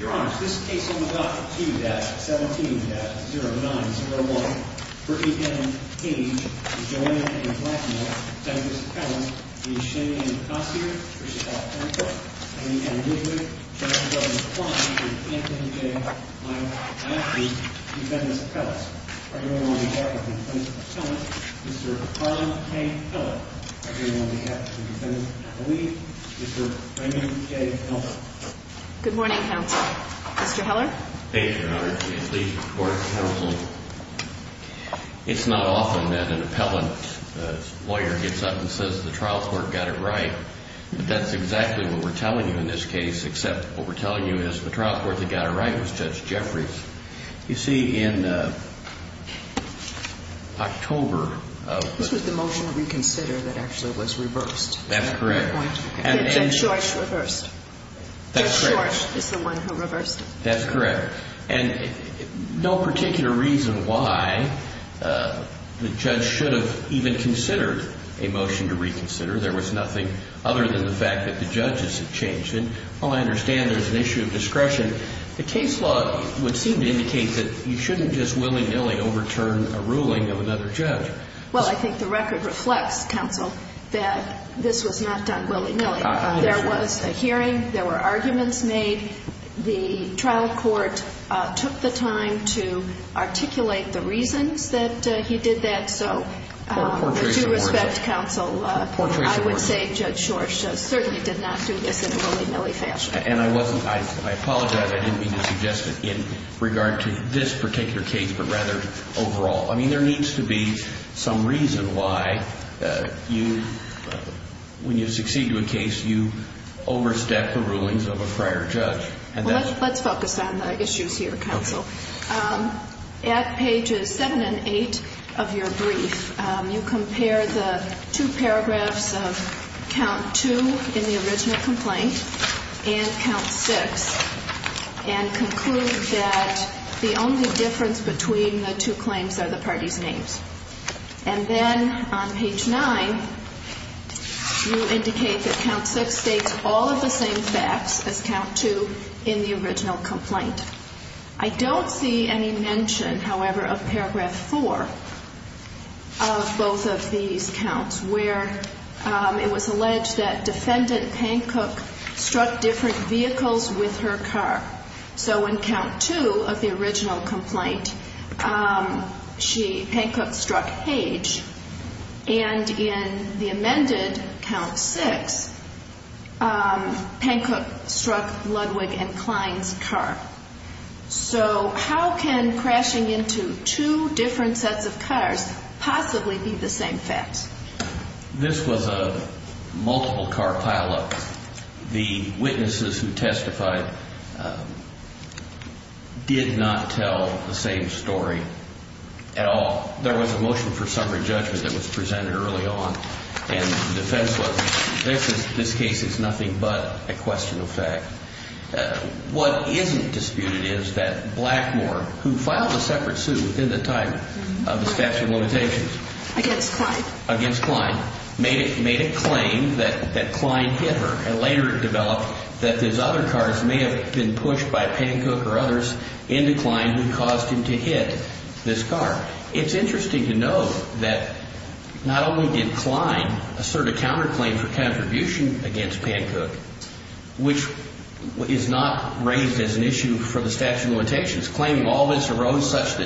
Your Honor, this case on the docket, 2-17-0901, for E. M. Hage, Joanna A. Blackmore, Defendant's Appellant, is Shane A. Kossier, for Sheffield County Court. Amy Ann Woodward, Justice Delegate Kline, for Defendant J. Miles, and for the Defendant's Appellant. Our jury will now be joined by the Defendant's Appellant, Mr. Kline K. Pellett. Our jury will now be joined by the Defendant's Appellee, Mr. Amy J. Pellett. Good morning, Counsel. Mr. Heller? Thank you, Your Honor. It's the Court of Counsel. It's not often that an Appellant's lawyer gets up and says the trial court got it right. That's exactly what we're telling you in this case, except what we're telling you is the trial court that got it right was Judge Jeffries. You see, in October of... This was the motion to reconsider that actually was reversed. That's correct. Judge George reversed. Judge George is the one who reversed it. That's correct. And no particular reason why the judge should have even considered a motion to reconsider. There was nothing other than the fact that the judges had changed it. All I understand is there's an issue of discretion. The case law would seem to indicate that you shouldn't just willy-nilly overturn a ruling of another judge. Well, I think the record reflects, Counsel, that this was not done willy-nilly. There was a hearing. There were arguments made. The trial court took the time to articulate the reasons that he did that. So, with due respect, Counsel, I would say Judge George certainly did not do this in a willy-nilly fashion. And I wasn't... I apologize. I didn't mean to suggest it in regard to this particular case, but rather overall. I mean, there needs to be some reason why you, when you succeed in a case, you overstep the rulings of a prior judge. Let's focus on the issues here, Counsel. At pages 7 and 8 of your brief, you compare the two paragraphs of count 2 in the original complaint and count 6 and conclude that the only difference between the two claims are the parties' names. And then on page 9, you indicate that count 6 states all of the same facts as count 2 in the original complaint. I don't see any mention, however, of paragraph 4 of both of these counts where it was alleged that Defendant Pancook struck different vehicles with her car. So in count 2 of the original complaint, Pancook struck Hage. And in the amended count 6, Pancook struck Ludwig and Klein's car. So how can crashing into two different sets of cars possibly be the same facts? This was a multiple car pileup. The witnesses who testified did not tell the same story at all. There was a motion for summary judgment that was presented early on. And the defense was, this case is nothing but a question of fact. What isn't disputed is that Blackmore, who filed a separate suit within the time of the statute of limitations against Klein, made a claim that Klein hit her. And later it developed that his other cars may have been pushed by Pancook or others into Klein who caused him to hit this car. It's interesting to note that not only did Klein assert a counterclaim for contribution against Pancook, which is not raised as an issue for the statute of limitations, claiming all this arose such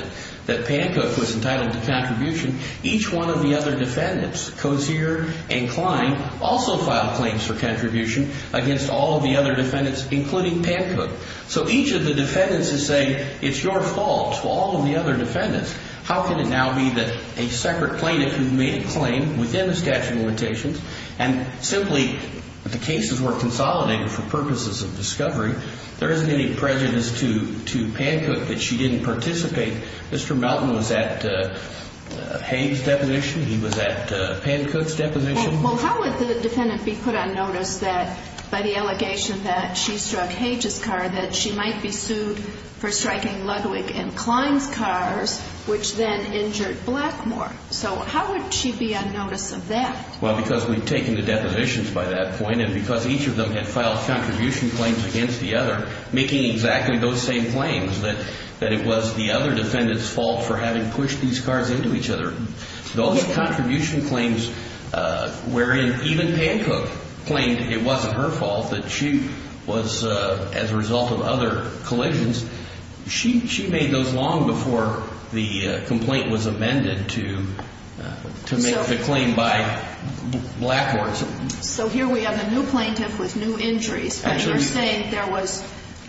that Pancook was entitled to contribution, each one of the other defendants, Cozier and Klein, also filed claims for contribution against all of the other defendants, including Pancook. So each of the defendants is saying, it's your fault to all of the other defendants. How can it now be that a separate plaintiff who made a claim within the statute of limitations and simply the cases were consolidated for purposes of discovery, there isn't any prejudice to Pancook that she didn't participate. Mr. Melton was at Hage's deposition, he was at Pancook's deposition. Well, how would the defendant be put on notice that by the allegation that she struck Hage's car that she might be sued for striking Ludwig and Klein's cars, which then injured Blackmore? So how would she be on notice of that? Well, because we've taken the depositions by that point, and because each of them had filed contribution claims against the other, making exactly those same claims that it was the other defendant's fault for having pushed these cars into each other. Those contribution claims wherein even Pancook claimed it wasn't her fault, that she was as a result of other collisions, she made those long before the complaint was amended to make the claim by Blackmore. So here we have a new plaintiff with new injuries, but you're saying there was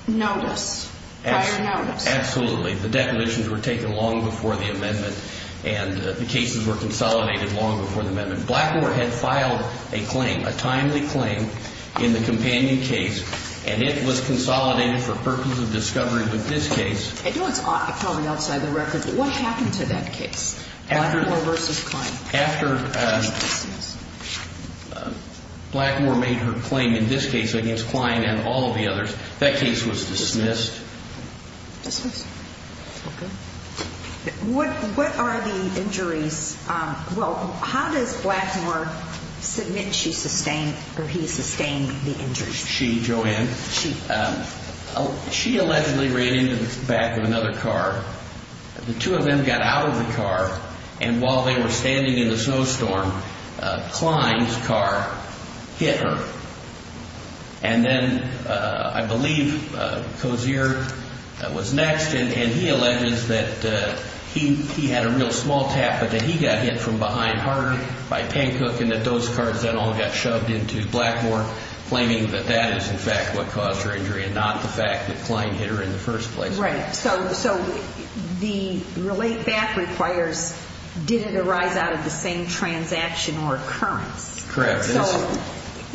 notice, prior notice. Absolutely. The depositions were taken long before the amendment, and the cases were consolidated long before the amendment. Blackmore had filed a claim, a timely claim, in the companion case, and it was consolidated for purpose of discovery with this case. I know it's probably outside the record, but what happened to that case? Blackmore versus Klein. After Blackmore made her claim in this case against Klein and all of the others, that case was dismissed. Dismissed. Okay. What are the injuries? Well, how does Blackmore submit she sustained or he sustained the injuries? She, Joanne, she allegedly ran into the back of another car. The two of them got out of the car, and while they were standing in the snowstorm, Klein's car hit her. And then I believe Cozier was next, and he alleges that he had a real small tap, but that he got hit from behind hard by Pancook, and that those cars then all got shoved into Blackmore, claiming that that is, in fact, what caused her injury and not the fact that Klein hit her in the first place. Right. So the relate back requires, did it arise out of the same transaction or occurrence? Correct. So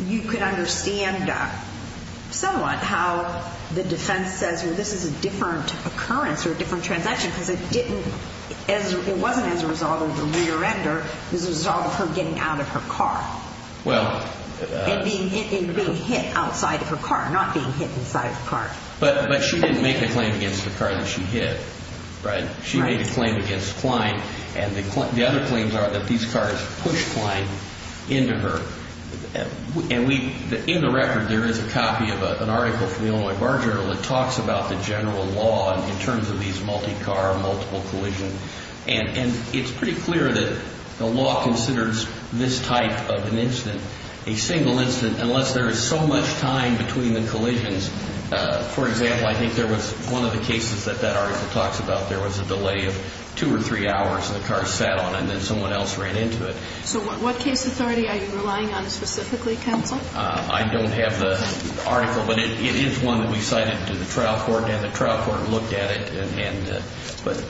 you could understand somewhat how the defense says, well, this is a different occurrence or a different transaction, because it didn't, it wasn't as a result of the rear-ender. It was a result of her getting out of her car and being hit outside of her car, not being hit inside of the car. But she didn't make a claim against the car that she hit, right? Right. She made a claim against Klein, and the other claims are that these cars pushed Klein into her. And we, in the record, there is a copy of an article from the Illinois Bar Journal that talks about the general law in terms of these multi-car, multiple collision, and it's pretty clear that the law considers this type of an incident, a single incident, unless there is so much time between the collisions. For example, I think there was one of the cases that that article talks about. There was a delay of two or three hours, and the car sat on it, and then someone else ran into it. So what case authority are you relying on specifically, counsel? I don't have the article, but it is one that we cited to the trial court, and the trial court looked at it, but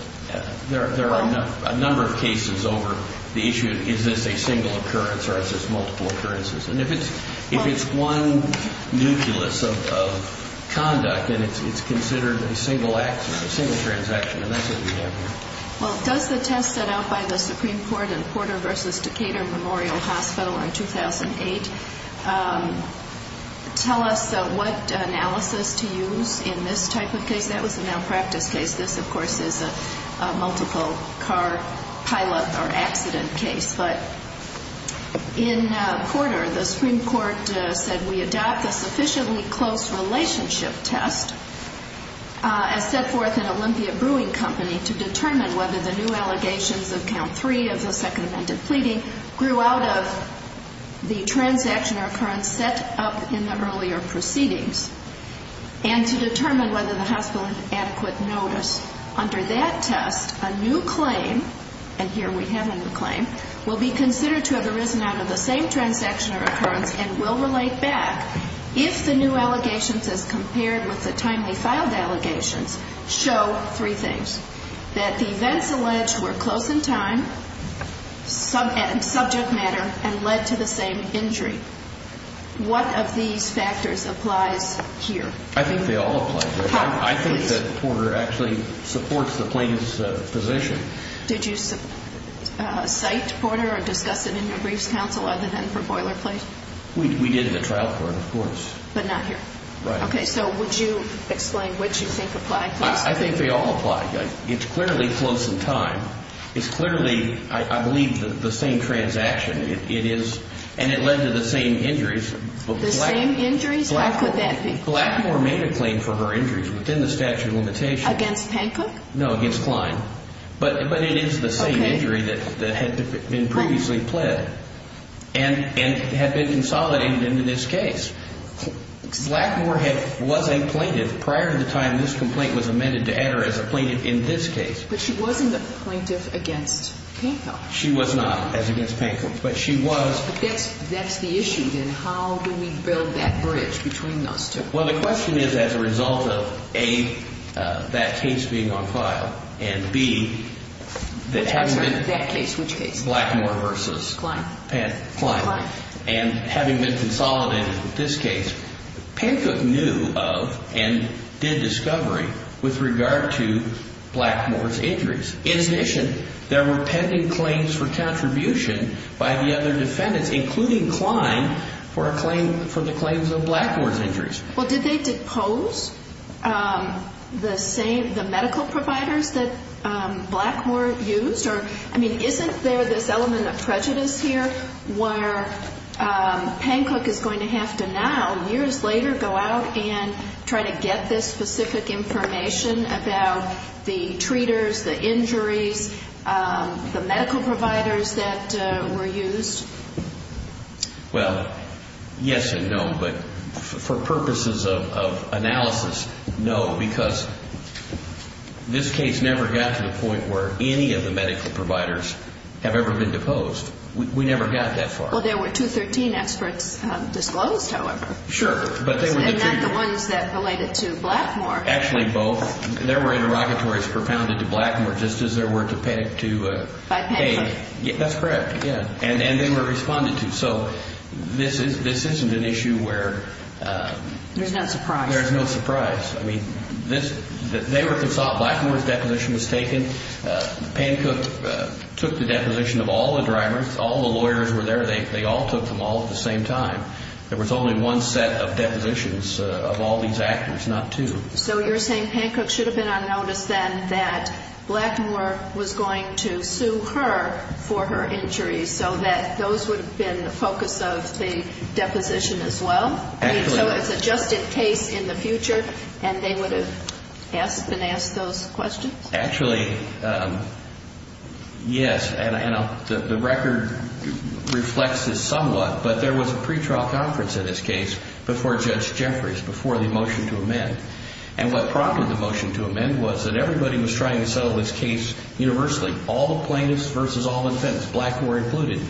there are a number of cases over the issue of is this a single occurrence or is this multiple occurrences. And if it's one nucleus of conduct, then it's considered a single accident, a single transaction, and that's what we have here. Well, does the test set out by the Supreme Court in Porter v. Decatur Memorial Hospital in 2008 tell us what analysis to use in this type of case? That was a malpractice case. This, of course, is a multiple-car pilot or accident case. But in Porter, the Supreme Court said, we adopt a sufficiently close relationship test, as set forth in Olympia Brewing Company, to determine whether the new allegations of Count 3 of the Second Amendment Pleading grew out of the transaction or occurrence set up in the earlier proceedings, and to determine whether the hospital had adequate notice. Under that test, a new claim, and here we have a new claim, will be considered to have arisen out of the same transaction or occurrence and will relate back if the new allegations, as compared with the timely filed allegations, show three things. That the events alleged were close in time, subject matter, and led to the same injury. What of these factors applies here? I think they all apply here. I think that Porter actually supports the plaintiff's position. Did you cite Porter or discuss it in your briefs counsel other than for boilerplate? We did in the trial court, of course. But not here? Right. Okay, so would you explain which you think apply here? I think they all apply. It's clearly close in time. It's clearly, I believe, the same transaction. And it led to the same injuries. The same injuries? Why could that be? Blackmore made a claim for her injuries within the statute of limitations. Against Hancock? No, against Klein. But it is the same injury that had been previously pled, and had been consolidated into this case. Blackmore was a plaintiff prior to the time this complaint was amended to enter as a plaintiff in this case. But she wasn't a plaintiff against Hancock. She was not as against Hancock. But she was. That's the issue, then. How do we build that bridge between those two? Well, the question is as a result of, A, that case being on file, and, B, that having been. Which case? Blackmore versus Klein. Klein. Klein. And having been consolidated with this case, Hancock knew of and did discovery with regard to Blackmore's injuries. In addition, there were pending claims for contribution by the other defendants, including Klein, for the claims of Blackmore's injuries. Well, did they depose the medical providers that Blackmore used? I mean, isn't there this element of prejudice here where Hancock is going to have to now, years later, go out and try to get this specific information about the treaters, the injuries, the medical providers that were used? Well, yes and no. But for purposes of analysis, no. Because this case never got to the point where any of the medical providers have ever been deposed. We never got that far. Well, there were 213 experts disclosed, however. Sure. And not the ones that related to Blackmore. Actually, both. There were interrogatories propounded to Blackmore, just as there were to Payne. That's correct. And they were responded to. So this isn't an issue where. There's no surprise. There's no surprise. I mean, Blackmore's deposition was taken. Hancock took the deposition of all the drivers. All the lawyers were there. They all took them all at the same time. There was only one set of depositions of all these actors, not two. So you're saying Hancock should have been on notice then that Blackmore was going to sue her for her injuries so that those would have been the focus of the deposition as well? Exactly. So it's a just-in-case in the future, and they would have been asked those questions? Actually, yes. And the record reflects this somewhat. But there was a pretrial conference in this case before Judge Jeffries, before the motion to amend. And what prompted the motion to amend was that everybody was trying to settle this case universally, all the plaintiffs versus all the defendants, Blackmore included.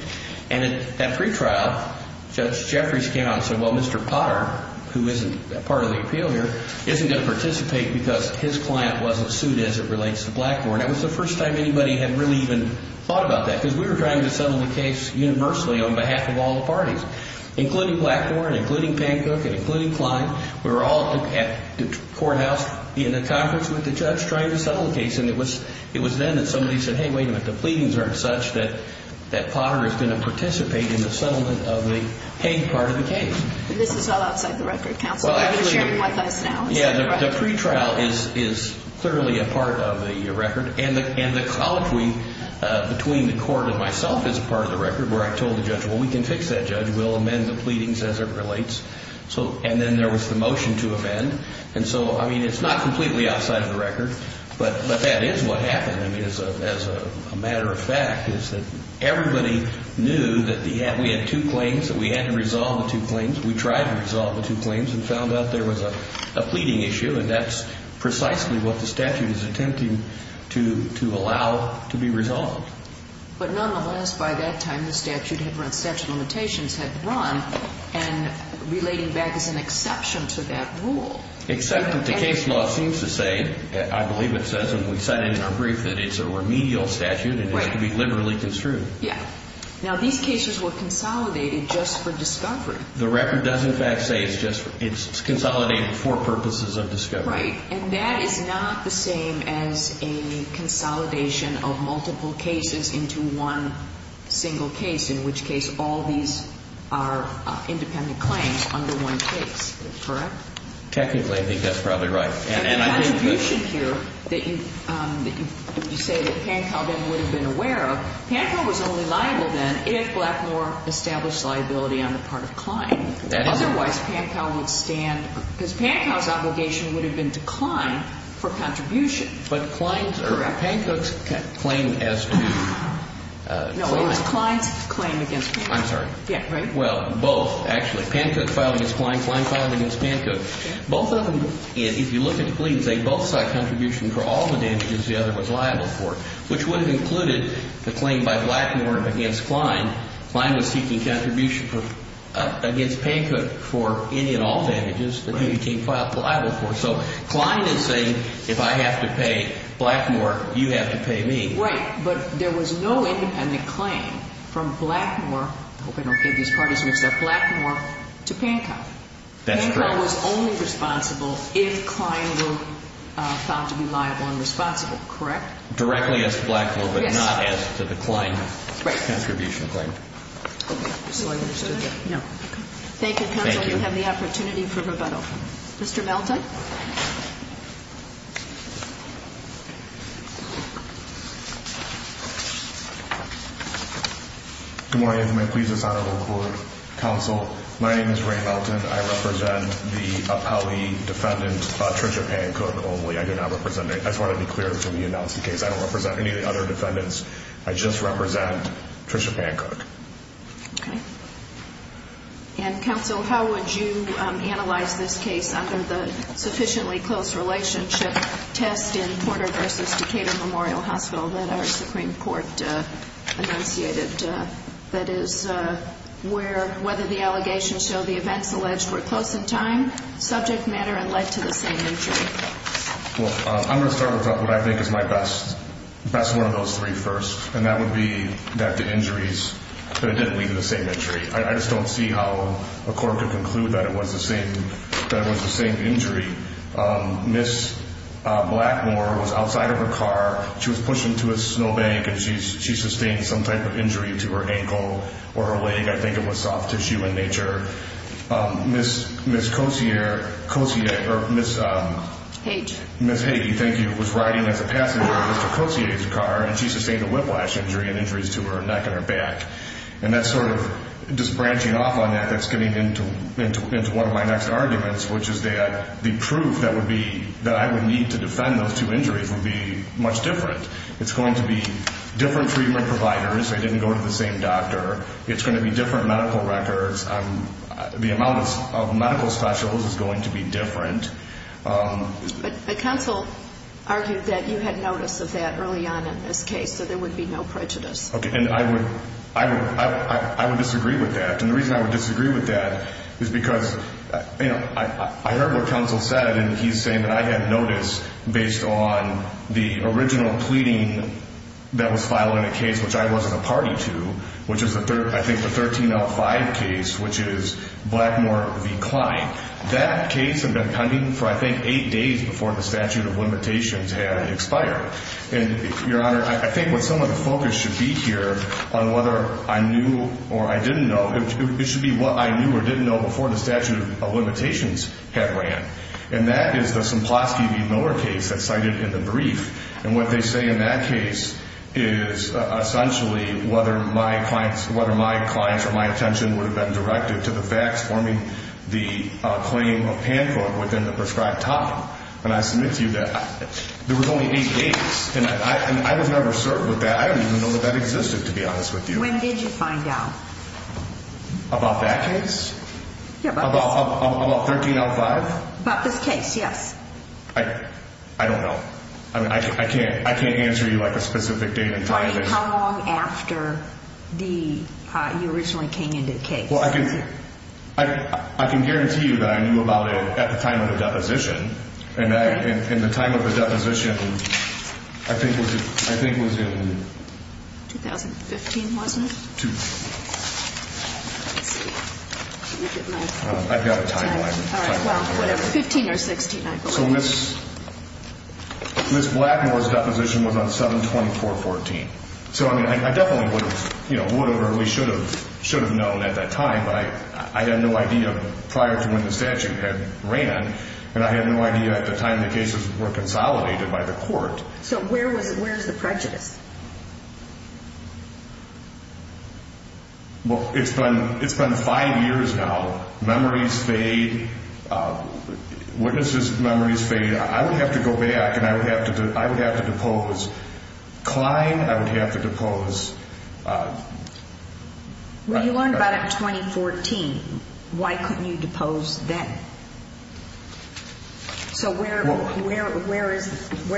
And at that pretrial, Judge Jeffries came out and said, well, Mr. Potter, who isn't a part of the appeal here, isn't going to participate because his client wasn't sued as it relates to Blackmore. And that was the first time anybody had really even thought about that because we were trying to settle the case universally on behalf of all the parties, including Blackmore and including Hancock and including Klein. We were all at the courthouse in the conference with the judge trying to settle the case. And it was then that somebody said, hey, wait a minute. The pleadings aren't such that Potter is going to participate in the settlement of the Hague part of the case. But this is all outside the record, counsel. You're sharing with us now. Yeah, the pretrial is clearly a part of the record. And the colloquy between the court and myself is a part of the record where I told the judge, well, we can fix that, Judge. We'll amend the pleadings as it relates. And then there was the motion to amend. And so, I mean, it's not completely outside of the record. But that is what happened, I mean, as a matter of fact, is that everybody knew that we had two claims, that we had to resolve the two claims. We tried to resolve the two claims and found out there was a pleading issue. And that's precisely what the statute is attempting to allow to be resolved. But nonetheless, by that time, the statute had run, statute of limitations had run, and relating back is an exception to that rule. Except that the case law seems to say, I believe it says, and we said in our brief that it's a remedial statute and it has to be liberally construed. Yeah. Now, these cases were consolidated just for discovery. The record does, in fact, say it's consolidated for purposes of discovery. Right. And that is not the same as a consolidation of multiple cases into one single case, in which case all these are independent claims under one case. Correct? Technically, I think that's probably right. The contribution here that you say that Pancow then would have been aware of, Pancow was only liable then if Blackmore established liability on the part of Klein. Otherwise, Pancow would stand, because Pancow's obligation would have been to Klein for contribution. But Klein's, or Pancow's claim as to Klein. No, it was Klein's claim against Pancow. I'm sorry. Yeah, right? Well, both, actually. Pancow filed against Klein. Klein filed against Pancow. Both of them, if you look at the claims, they both saw contribution for all the damages the other was liable for, which would have included the claim by Blackmore against Klein. Klein was seeking contribution against Pancow for any and all damages that he became liable for. So Klein is saying if I have to pay Blackmore, you have to pay me. Right. But there was no independent claim from Blackmore. I hope I don't get these parties mixed up. Blackmore to Pancow. That's correct. Pancow was only responsible if Klein were found to be liable and responsible, correct? Directly as to Blackmore, but not as to the Klein contribution claim. Right. Okay. So I understood that. No. Okay. Thank you, counsel. Thank you. You have the opportunity for rebuttal. Mr. Melton. Good morning, I'm going to please the Senate Whole Court. Counsel, my name is Ray Melton. I represent the dependant, Trisha Pancook only. I do not represent any. I just wanted to be clear before we announced the case. I don't represent any of the other defendants. I just represent Trisha Pancook. Okay. Counsel, how would you analyze this case under the sufficiently close relationship test in Porter v. Decatur Memorial Hospital that our Supreme Court enunciated? That is, whether the allegations show the events alleged were close in time, subject matter, and led to the same injury. I'm going to start with what I think is my best, best one of those three first, and that would be that the injuries, that it didn't lead to the same injury. I just don't see how a court could conclude that it was the same injury. Ms. Blackmore was outside of her car. She was pushing to a snowbank, and she sustained some type of injury to her ankle or her leg. I think it was soft tissue in nature. Ms. Cossier, Cossier, or Ms. Hage, thank you, was riding as a passenger in Mr. Cossier's car, and she sustained a whiplash injury and injuries to her neck and her back. And that's sort of just branching off on that. That's getting into one of my next arguments, which is that the proof that I would need to defend those two injuries would be much different. It's going to be different treatment providers. They didn't go to the same doctor. It's going to be different medical records. The amount of medical specials is going to be different. But counsel argued that you had notice of that early on in this case, so there would be no prejudice. Okay, and I would disagree with that. And the reason I would disagree with that is because I heard what counsel said, and he's saying that I had notice based on the original pleading that was filed in a case which I wasn't a party to, which is, I think, the 1305 case, which is Blackmore v. Kline. That case had been pending for, I think, eight days before the statute of limitations had expired. And, Your Honor, I think what some of the focus should be here on whether I knew or I didn't know, it should be what I knew or didn't know before the statute of limitations had ran. And that is the Semplowski v. Miller case that's cited in the brief. And what they say in that case is, essentially, whether my clients or my attention would have been directed to the facts forming the claim of Pankow within the prescribed time. And I submit to you that there was only eight days. And I was never certain with that. I don't even know that that existed, to be honest with you. When did you find out? About that case? Yeah, about this case. About 1305? About this case, yes. I don't know. I mean, I can't answer you, like, a specific date and time. How long after you originally came into the case? Well, I can guarantee you that I knew about it at the time of the deposition. And the time of the deposition, I think, was in... 2015, wasn't it? 2015. Let's see. I've got a timeline. All right, well, whatever, 15 or 16, I believe. So Ms. Blackmore's deposition was on 7-24-14. So, I mean, I definitely would have, you know, would have or at least should have known at that time. But I had no idea prior to when the statute had ran, and I had no idea at the time the cases were consolidated by the court. So where is the prejudice? Well, it's been 5 years now. Memories fade. Witnesses' memories fade. I would have to go back, and I would have to depose. Klein, I would have to depose. When you learned about it in 2014, why couldn't you depose then? So where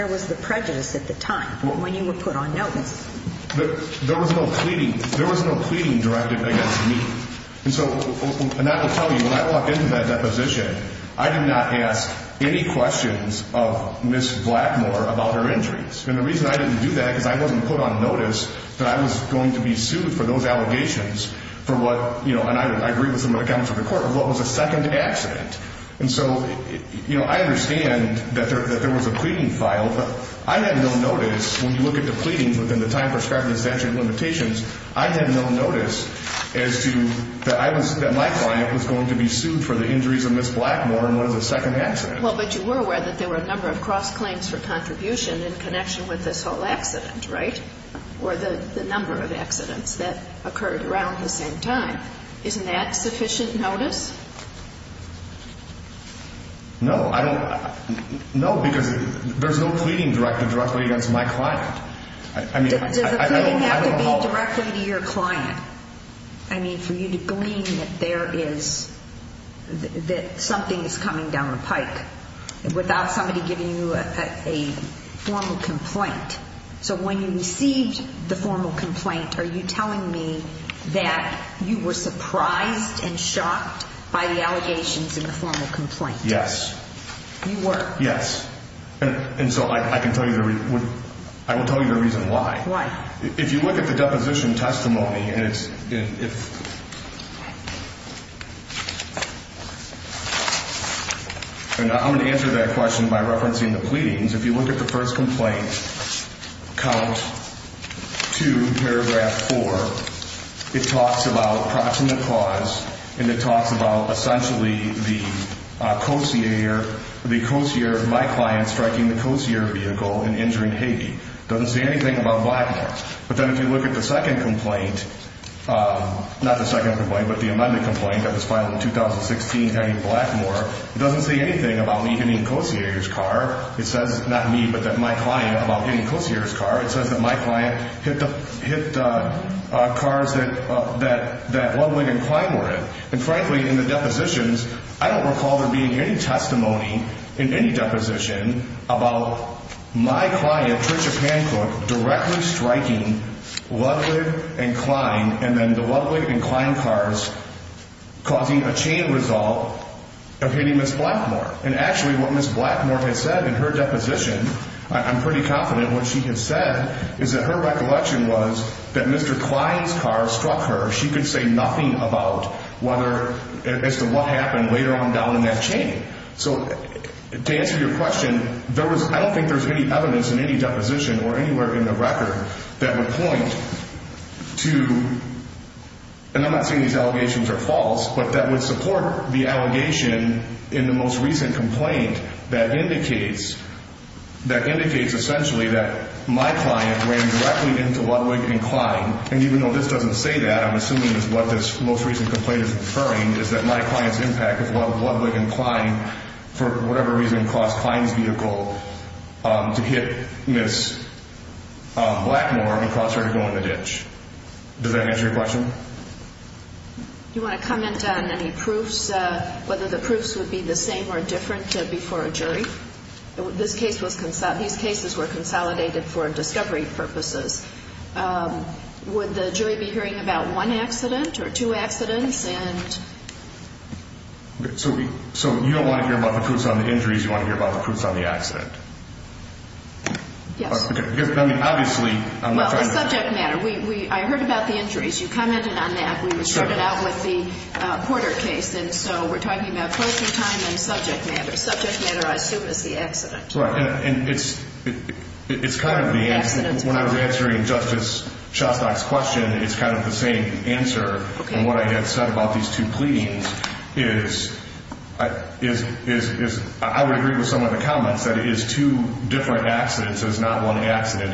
was the prejudice at the time, when you were put on notice? There was no pleading directed against me. And so, and I will tell you, when I walked into that deposition, I did not ask any questions of Ms. Blackmore about her injuries. And the reason I didn't do that is because I wasn't put on notice that I was going to be sued for those allegations for what, you know, and I agree with some of the comments of the court, of what was a second accident. And so, you know, I understand that there was a pleading filed, but I had no notice, when you look at the pleadings within the time prescribed in the statute of limitations, I had no notice as to that my client was going to be sued for the injuries of Ms. Blackmore and what is a second accident. Well, but you were aware that there were a number of cross-claims for contribution in connection with this whole accident, right? Or the number of accidents that occurred around the same time. Isn't that sufficient notice? No, I don't. No, because there's no pleading directed directly against my client. Does a pleading have to be directly to your client? I mean, for you to glean that there is, that something is coming down the pike, without somebody giving you a formal complaint. So when you received the formal complaint, are you telling me that you were surprised and shocked by the allegations in the formal complaint? Yes. You were? Yes. And so I can tell you the reason, I will tell you the reason why. Why? If you look at the deposition testimony, and I'm going to answer that question by referencing the pleadings. If you look at the first complaint, count 2, paragraph 4, it talks about proximate cause and it talks about essentially the co-seer, my client striking the co-seer vehicle and injuring Hagee. It doesn't say anything about Blackmore. But then if you look at the second complaint, not the second complaint, but the amended complaint that was filed in 2016, Hagee Blackmore, it doesn't say anything about me hitting a co-seer's car. It says not me, but that my client about hitting a co-seer's car. It says that my client hit cars that Ludwig and Klein were in. And frankly, in the depositions, I don't recall there being any testimony in any deposition about my client, Trisha Pancrook, directly striking Ludwig and Klein and then the Ludwig and Klein cars causing a chain result of hitting Ms. Blackmore. And actually what Ms. Blackmore has said in her deposition, I'm pretty confident what she has said, is that her recollection was that Mr. Klein's car struck her. She could say nothing about as to what happened later on down in that chain. So to answer your question, I don't think there's any evidence in any deposition or anywhere in the record that would point to, and I'm not saying these allegations are false, but that would support the allegation in the most recent complaint that indicates essentially that my client ran directly into Ludwig and Klein. And even though this doesn't say that, I'm assuming is what this most recent complaint is referring is that my client's impact of Ludwig and Klein for whatever reason caused Klein's vehicle to hit Ms. Blackmore and cause her to go in the ditch. Does that answer your question? Do you want to comment on any proofs, whether the proofs would be the same or different before a jury? These cases were consolidated for discovery purposes. Would the jury be hearing about one accident or two accidents? So you don't want to hear about the proofs on the injuries, you want to hear about the proofs on the accident? Yes. Well, the subject matter. I heard about the injuries. You commented on that. We started out with the Porter case, and so we're talking about closing time and subject matter. Subject matter, I assume, is the accident. It's kind of the answer. When I was answering Justice Shostak's question, it's kind of the same answer. And what I had said about these two pleadings is I would agree with some of the comments that it is two different accidents, it's not one accident.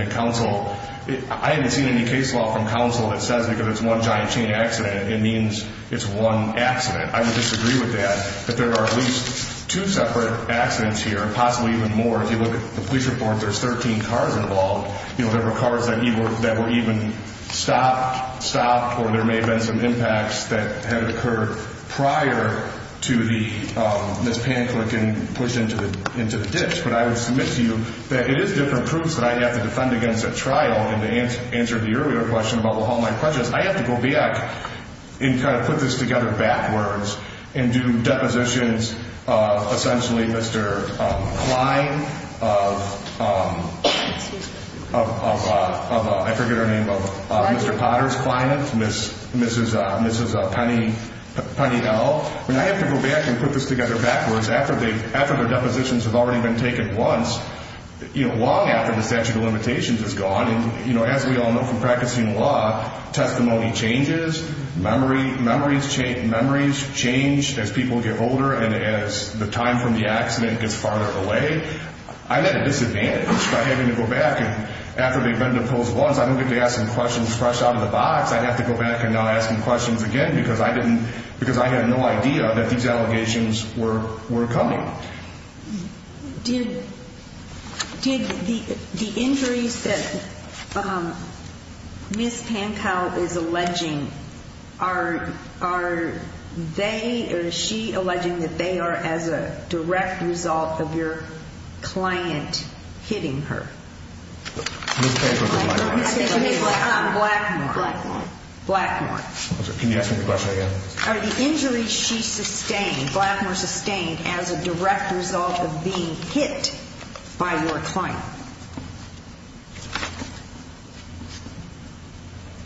I haven't seen any case law from counsel that says because it's one giant chain accident, it means it's one accident. I would disagree with that. If there are at least two separate accidents here, possibly even more, if you look at the police report, there's 13 cars involved. There were cars that were even stopped, stopped, or there may have been some impacts that had occurred prior to Ms. Panclin getting pushed into the ditch. But I would submit to you that it is different proofs that I have to defend against at trial. And to answer the earlier question about all my questions, I have to go back and kind of put this together backwards and do depositions, essentially, Mr. Klein of, I forget her name, of Mr. Potters-Klein, Mrs. Peniel. I have to go back and put this together backwards after their depositions have already been taken once, long after the statute of limitations is gone. And, you know, as we all know from practicing law, testimony changes, memories change as people get older and as the time from the accident gets farther away. I'm at a disadvantage by having to go back and after they've been deposed once, I don't get to ask them questions fresh out of the box. I have to go back and now ask them questions again because I didn't, because I had no idea that these allegations were coming. Did the injuries that Ms. Pankow is alleging, are they or is she alleging that they are as a direct result of your client hitting her? Blackmore. Blackmore. Blackmore. Can you ask me the question again? Are the injuries she sustained, Blackmore sustained, as a direct result of being hit by your client?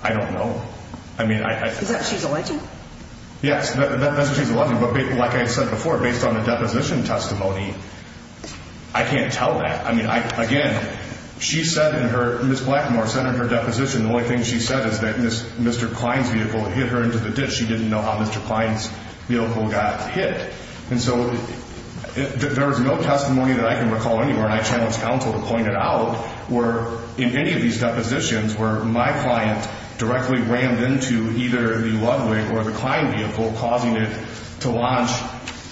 I don't know. Is that what she's alleging? Yes, that's what she's alleging. But like I said before, based on the deposition testimony, I can't tell that. I mean, again, she said in her, Ms. Blackmore said in her deposition, the only thing she said is that Mr. Klein's vehicle hit her into the ditch. She didn't know how Mr. Klein's vehicle got hit. And so there was no testimony that I can recall anywhere, and I challenged counsel to point it out where in any of these depositions where my client directly rammed into either the Ludwig or the Klein vehicle, causing it to launch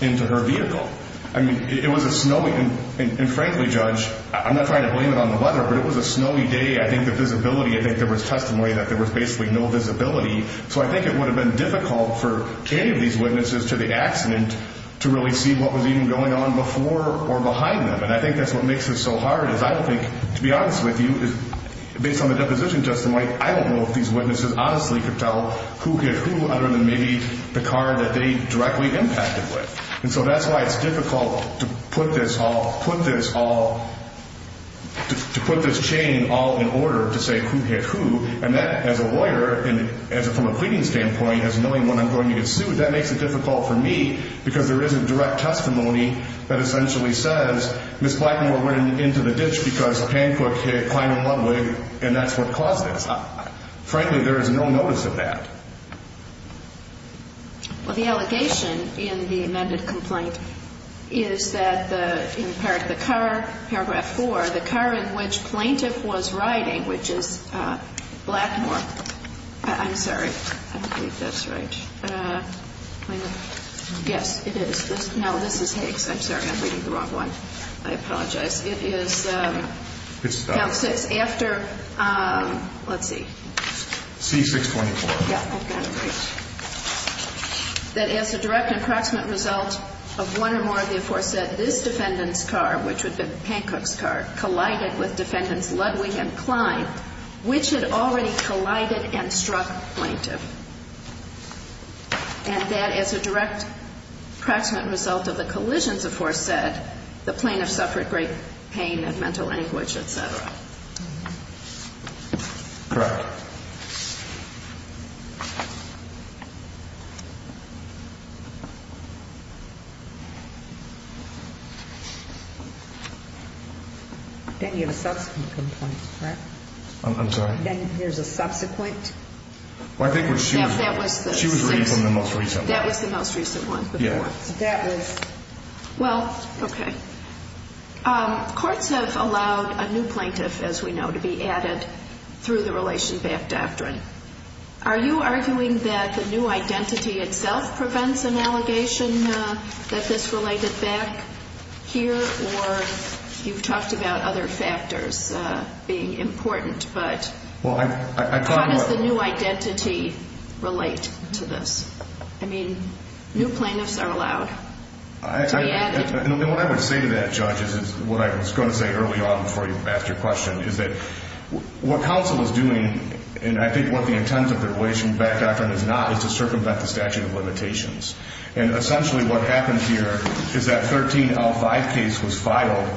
into her vehicle. I mean, it was a snowy, and frankly, Judge, I'm not trying to blame it on the weather, but it was a snowy day. I think the visibility, I think there was testimony that there was basically no visibility. So I think it would have been difficult for any of these witnesses to the accident to really see what was even going on before or behind them. And I think that's what makes this so hard is I don't think, to be honest with you, based on the deposition testimony, I don't know if these witnesses honestly could tell who hit who other than maybe the car that they directly impacted with. And so that's why it's difficult to put this all, put this all, to put this chain all in order to say who hit who. And that, as a lawyer, and from a cleaning standpoint, as knowing when I'm going to get sued, that makes it difficult for me because there isn't direct testimony that essentially says, Ms. Blackmore went into the ditch because Hancock hit Klein and Ludwig, and that's what caused this. Frankly, there is no notice of that. Well, the allegation in the amended complaint is that the car, paragraph 4, the car in which Plaintiff was riding, which is Blackmore. I'm sorry. I don't believe that's right. Yes, it is. No, this is Higgs. I'm sorry. I'm reading the wrong one. I apologize. It is Count 6 after, let's see. C624. Yeah, okay. That as a direct and proximate result of one or more of the aforesaid, this defendant's car, which would have been Hancock's car, collided with defendants Ludwig and Klein, which had already collided and struck Plaintiff. And that as a direct proximate result of the collisions aforesaid, the plaintiff suffered great pain and mental anguish, et cetera. Correct. Then you have a subsequent complaint, correct? I'm sorry. Then there's a subsequent? Well, I think what she was reading from the most recent one. That was the most recent one before. That was. Well, okay. Courts have allowed a new plaintiff, as we know, to be added through the relation back doctrine. Are you arguing that the new identity itself prevents an allegation that this related back here? Or you've talked about other factors being important. But how does the new identity relate to this? I mean, new plaintiffs are allowed to be added. And what I would say to that, Judge, is what I was going to say early on before you asked your question, is that what counsel is doing, and I think what the intent of the relation back doctrine is not, is to circumvent the statute of limitations. And essentially what happened here is that 13L5 case was filed,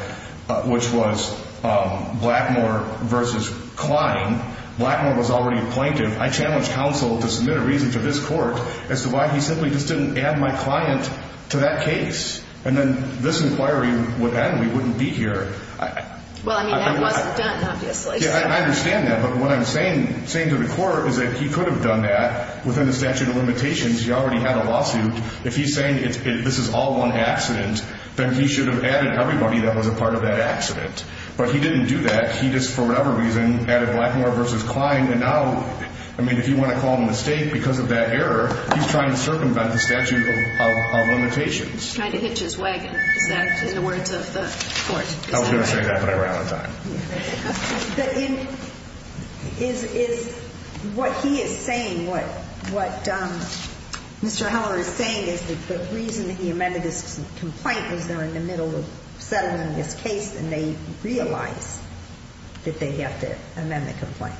which was Blackmore versus Klein. Blackmore was already a plaintiff. I challenged counsel to submit a reason to this court as to why he simply just didn't add my client to that case. And then this inquiry would end. We wouldn't be here. Well, I mean, that wasn't done, obviously. Yeah, I understand that. But what I'm saying to the court is that he could have done that within the statute of limitations. He already had a lawsuit. If he's saying this is all one accident, then he should have added everybody that was a part of that accident. But he didn't do that. He just, for whatever reason, added Blackmore versus Klein. And now, I mean, if you want to call him a mistake because of that error, he's trying to circumvent the statute of limitations. He's trying to hitch his wagon. Is that in the words of the court? I was going to say that, but I ran out of time. Is what he is saying, what Mr. Heller is saying, is the reason that he amended this complaint is they're in the middle of settling this case and they realize that they have to amend the complaint.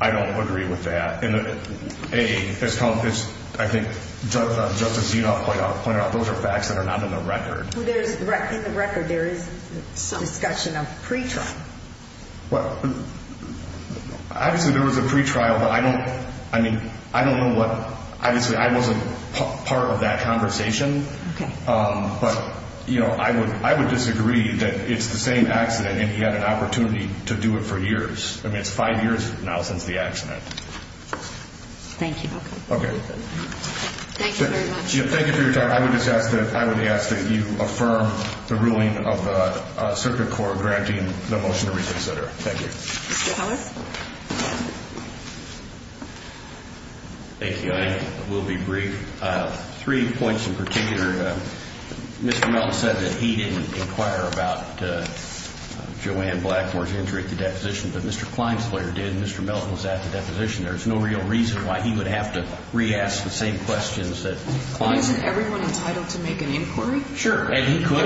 I don't agree with that. A, as I think Justice Zinoff pointed out, those are facts that are not in the record. In the record, there is discussion of pre-trial. Obviously, there was a pre-trial, but I don't know what. Obviously, I wasn't part of that conversation. But I would disagree that it's the same accident and he had an opportunity to do it for years. I mean, it's five years now since the accident. Thank you. Okay. Thank you very much. Thank you for your time. I would ask that you affirm the ruling of the circuit court granting the motion to reconsider. Thank you. Mr. Howarth? Thank you. I will be brief. Three points in particular. Mr. Melton said that he didn't inquire about Joanne Blackmore's injury at the deposition, but Mr. Klein's lawyer did, and Mr. Melton was at the deposition. There's no real reason why he would have to re-ask the same questions that Klein did. But isn't everyone entitled to make an inquiry? Sure. And he could.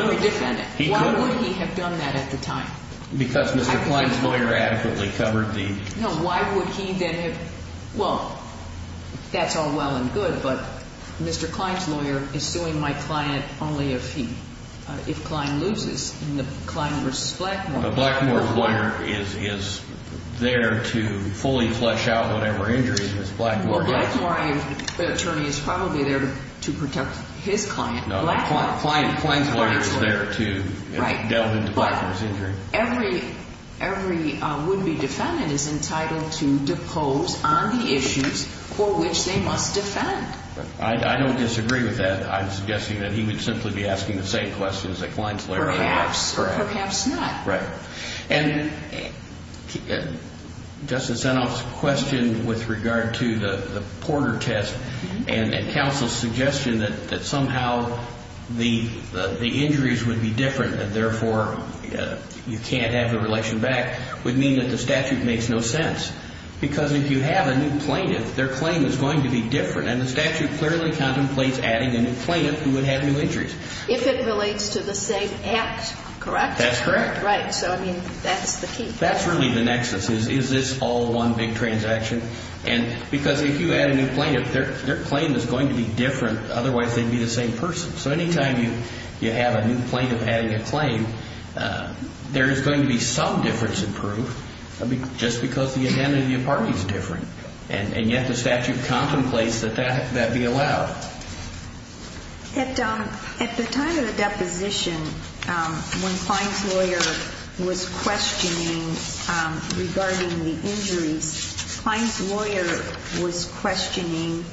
Why would he have done that at the time? Because Mr. Klein's lawyer adequately covered the ---- No, why would he then have ---- Well, that's all well and good, but Mr. Klein's lawyer is suing my client only if he ---- if Klein loses in the Klein versus Blackmore. A Blackmore lawyer is there to fully flesh out whatever injury this Blackmore ---- Well, Blackmore attorney is probably there to protect his client. No, Klein's lawyer is there to delve into Blackmore's injury. Every would-be defendant is entitled to depose on the issues for which they must defend. I don't disagree with that. I'm suggesting that he would simply be asking the same questions that Klein's lawyer ---- Perhaps. Perhaps not. Right. And Justice Zinoff's question with regard to the Porter test and counsel's suggestion that somehow the injuries would be different and therefore you can't have the relation back would mean that the statute makes no sense. Because if you have a new plaintiff, their claim is going to be different, and the statute clearly contemplates adding a new plaintiff who would have new injuries. If it relates to the same act, correct? That's correct. Right. So, I mean, that's the key. That's really the nexus is, is this all one big transaction? And because if you add a new plaintiff, their claim is going to be different. Otherwise, they'd be the same person. So anytime you have a new plaintiff adding a claim, there is going to be some difference in proof, just because the identity of the party is different. And yet the statute contemplates that that be allowed. At the time of the deposition, when Klein's lawyer was questioning regarding the injuries, Klein's lawyer was questioning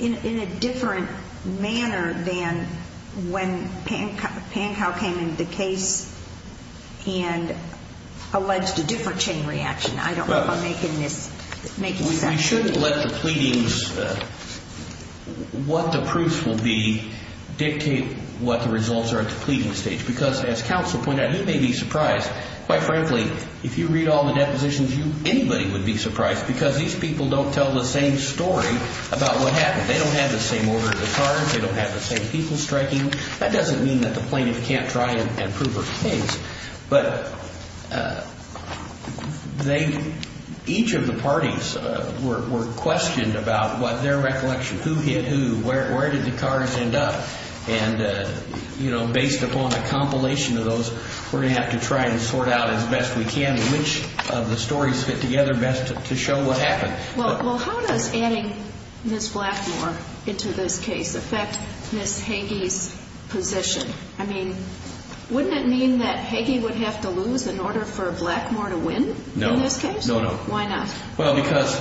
in a different manner than when Pankow came into the case and alleged a different chain reaction. I don't know if I'm making this, making sense. You shouldn't let the pleadings, what the proofs will be, dictate what the results are at the pleading stage. Because as counsel pointed out, he may be surprised. Quite frankly, if you read all the depositions, anybody would be surprised because these people don't tell the same story about what happened. They don't have the same order of the cards. They don't have the same people striking. That doesn't mean that the plaintiff can't try and prove her case. But each of the parties were questioned about their recollection. Who hit who? Where did the cards end up? And based upon a compilation of those, we're going to have to try and sort out as best we can which of the stories fit together best to show what happened. Well, how does adding Ms. Blackmore into this case affect Ms. Hagee's position? I mean, wouldn't it mean that Hagee would have to lose in order for Blackmore to win in this case? No. No, no. Why not? Well, because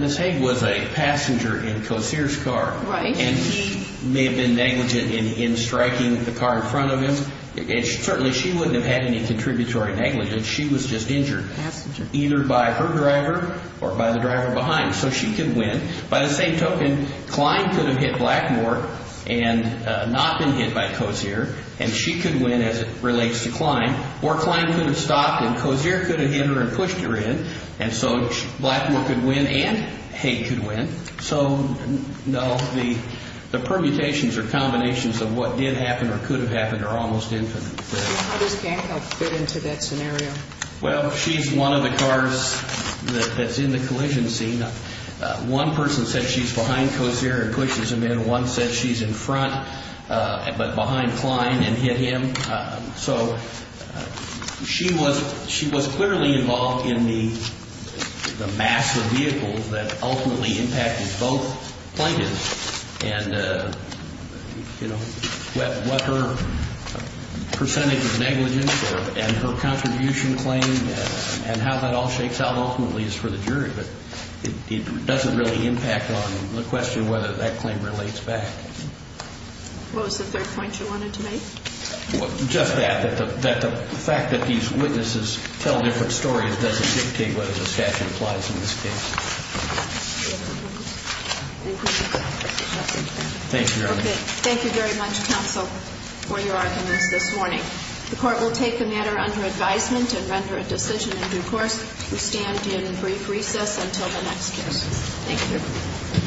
Ms. Hagee was a passenger in Kosir's car. Right. And she may have been negligent in striking the car in front of him. And certainly she wouldn't have had any contributory negligence. She was just injured. Passenger. Either by her driver or by the driver behind. So she could win. By the same token, Klein could have hit Blackmore and not been hit by Kosir. And she could win as it relates to Klein. Or Klein could have stopped and Kosir could have hit her and pushed her in. And so Blackmore could win and Hage could win. So, no, the permutations or combinations of what did happen or could have happened are almost infinite. How does Gankel fit into that scenario? Well, she's one of the cars that's in the collision scene. One person said she's behind Kosir and pushes him in. One said she's in front but behind Klein and hit him. So she was clearly involved in the mass of vehicles that ultimately impacted both plaintiffs. And, you know, what her percentage of negligence and her contribution claimed and how that all shakes out ultimately is for the jury. But it doesn't really impact on the question whether that claim relates back. What was the third point you wanted to make? Just that, that the fact that these witnesses tell different stories doesn't dictate whether the statute applies in this case. Thank you, Your Honor. Okay. Thank you very much, counsel, for your arguments this morning. The Court will take the matter under advisement and render a decision in due course. We stand in brief recess until the next case. Thank you.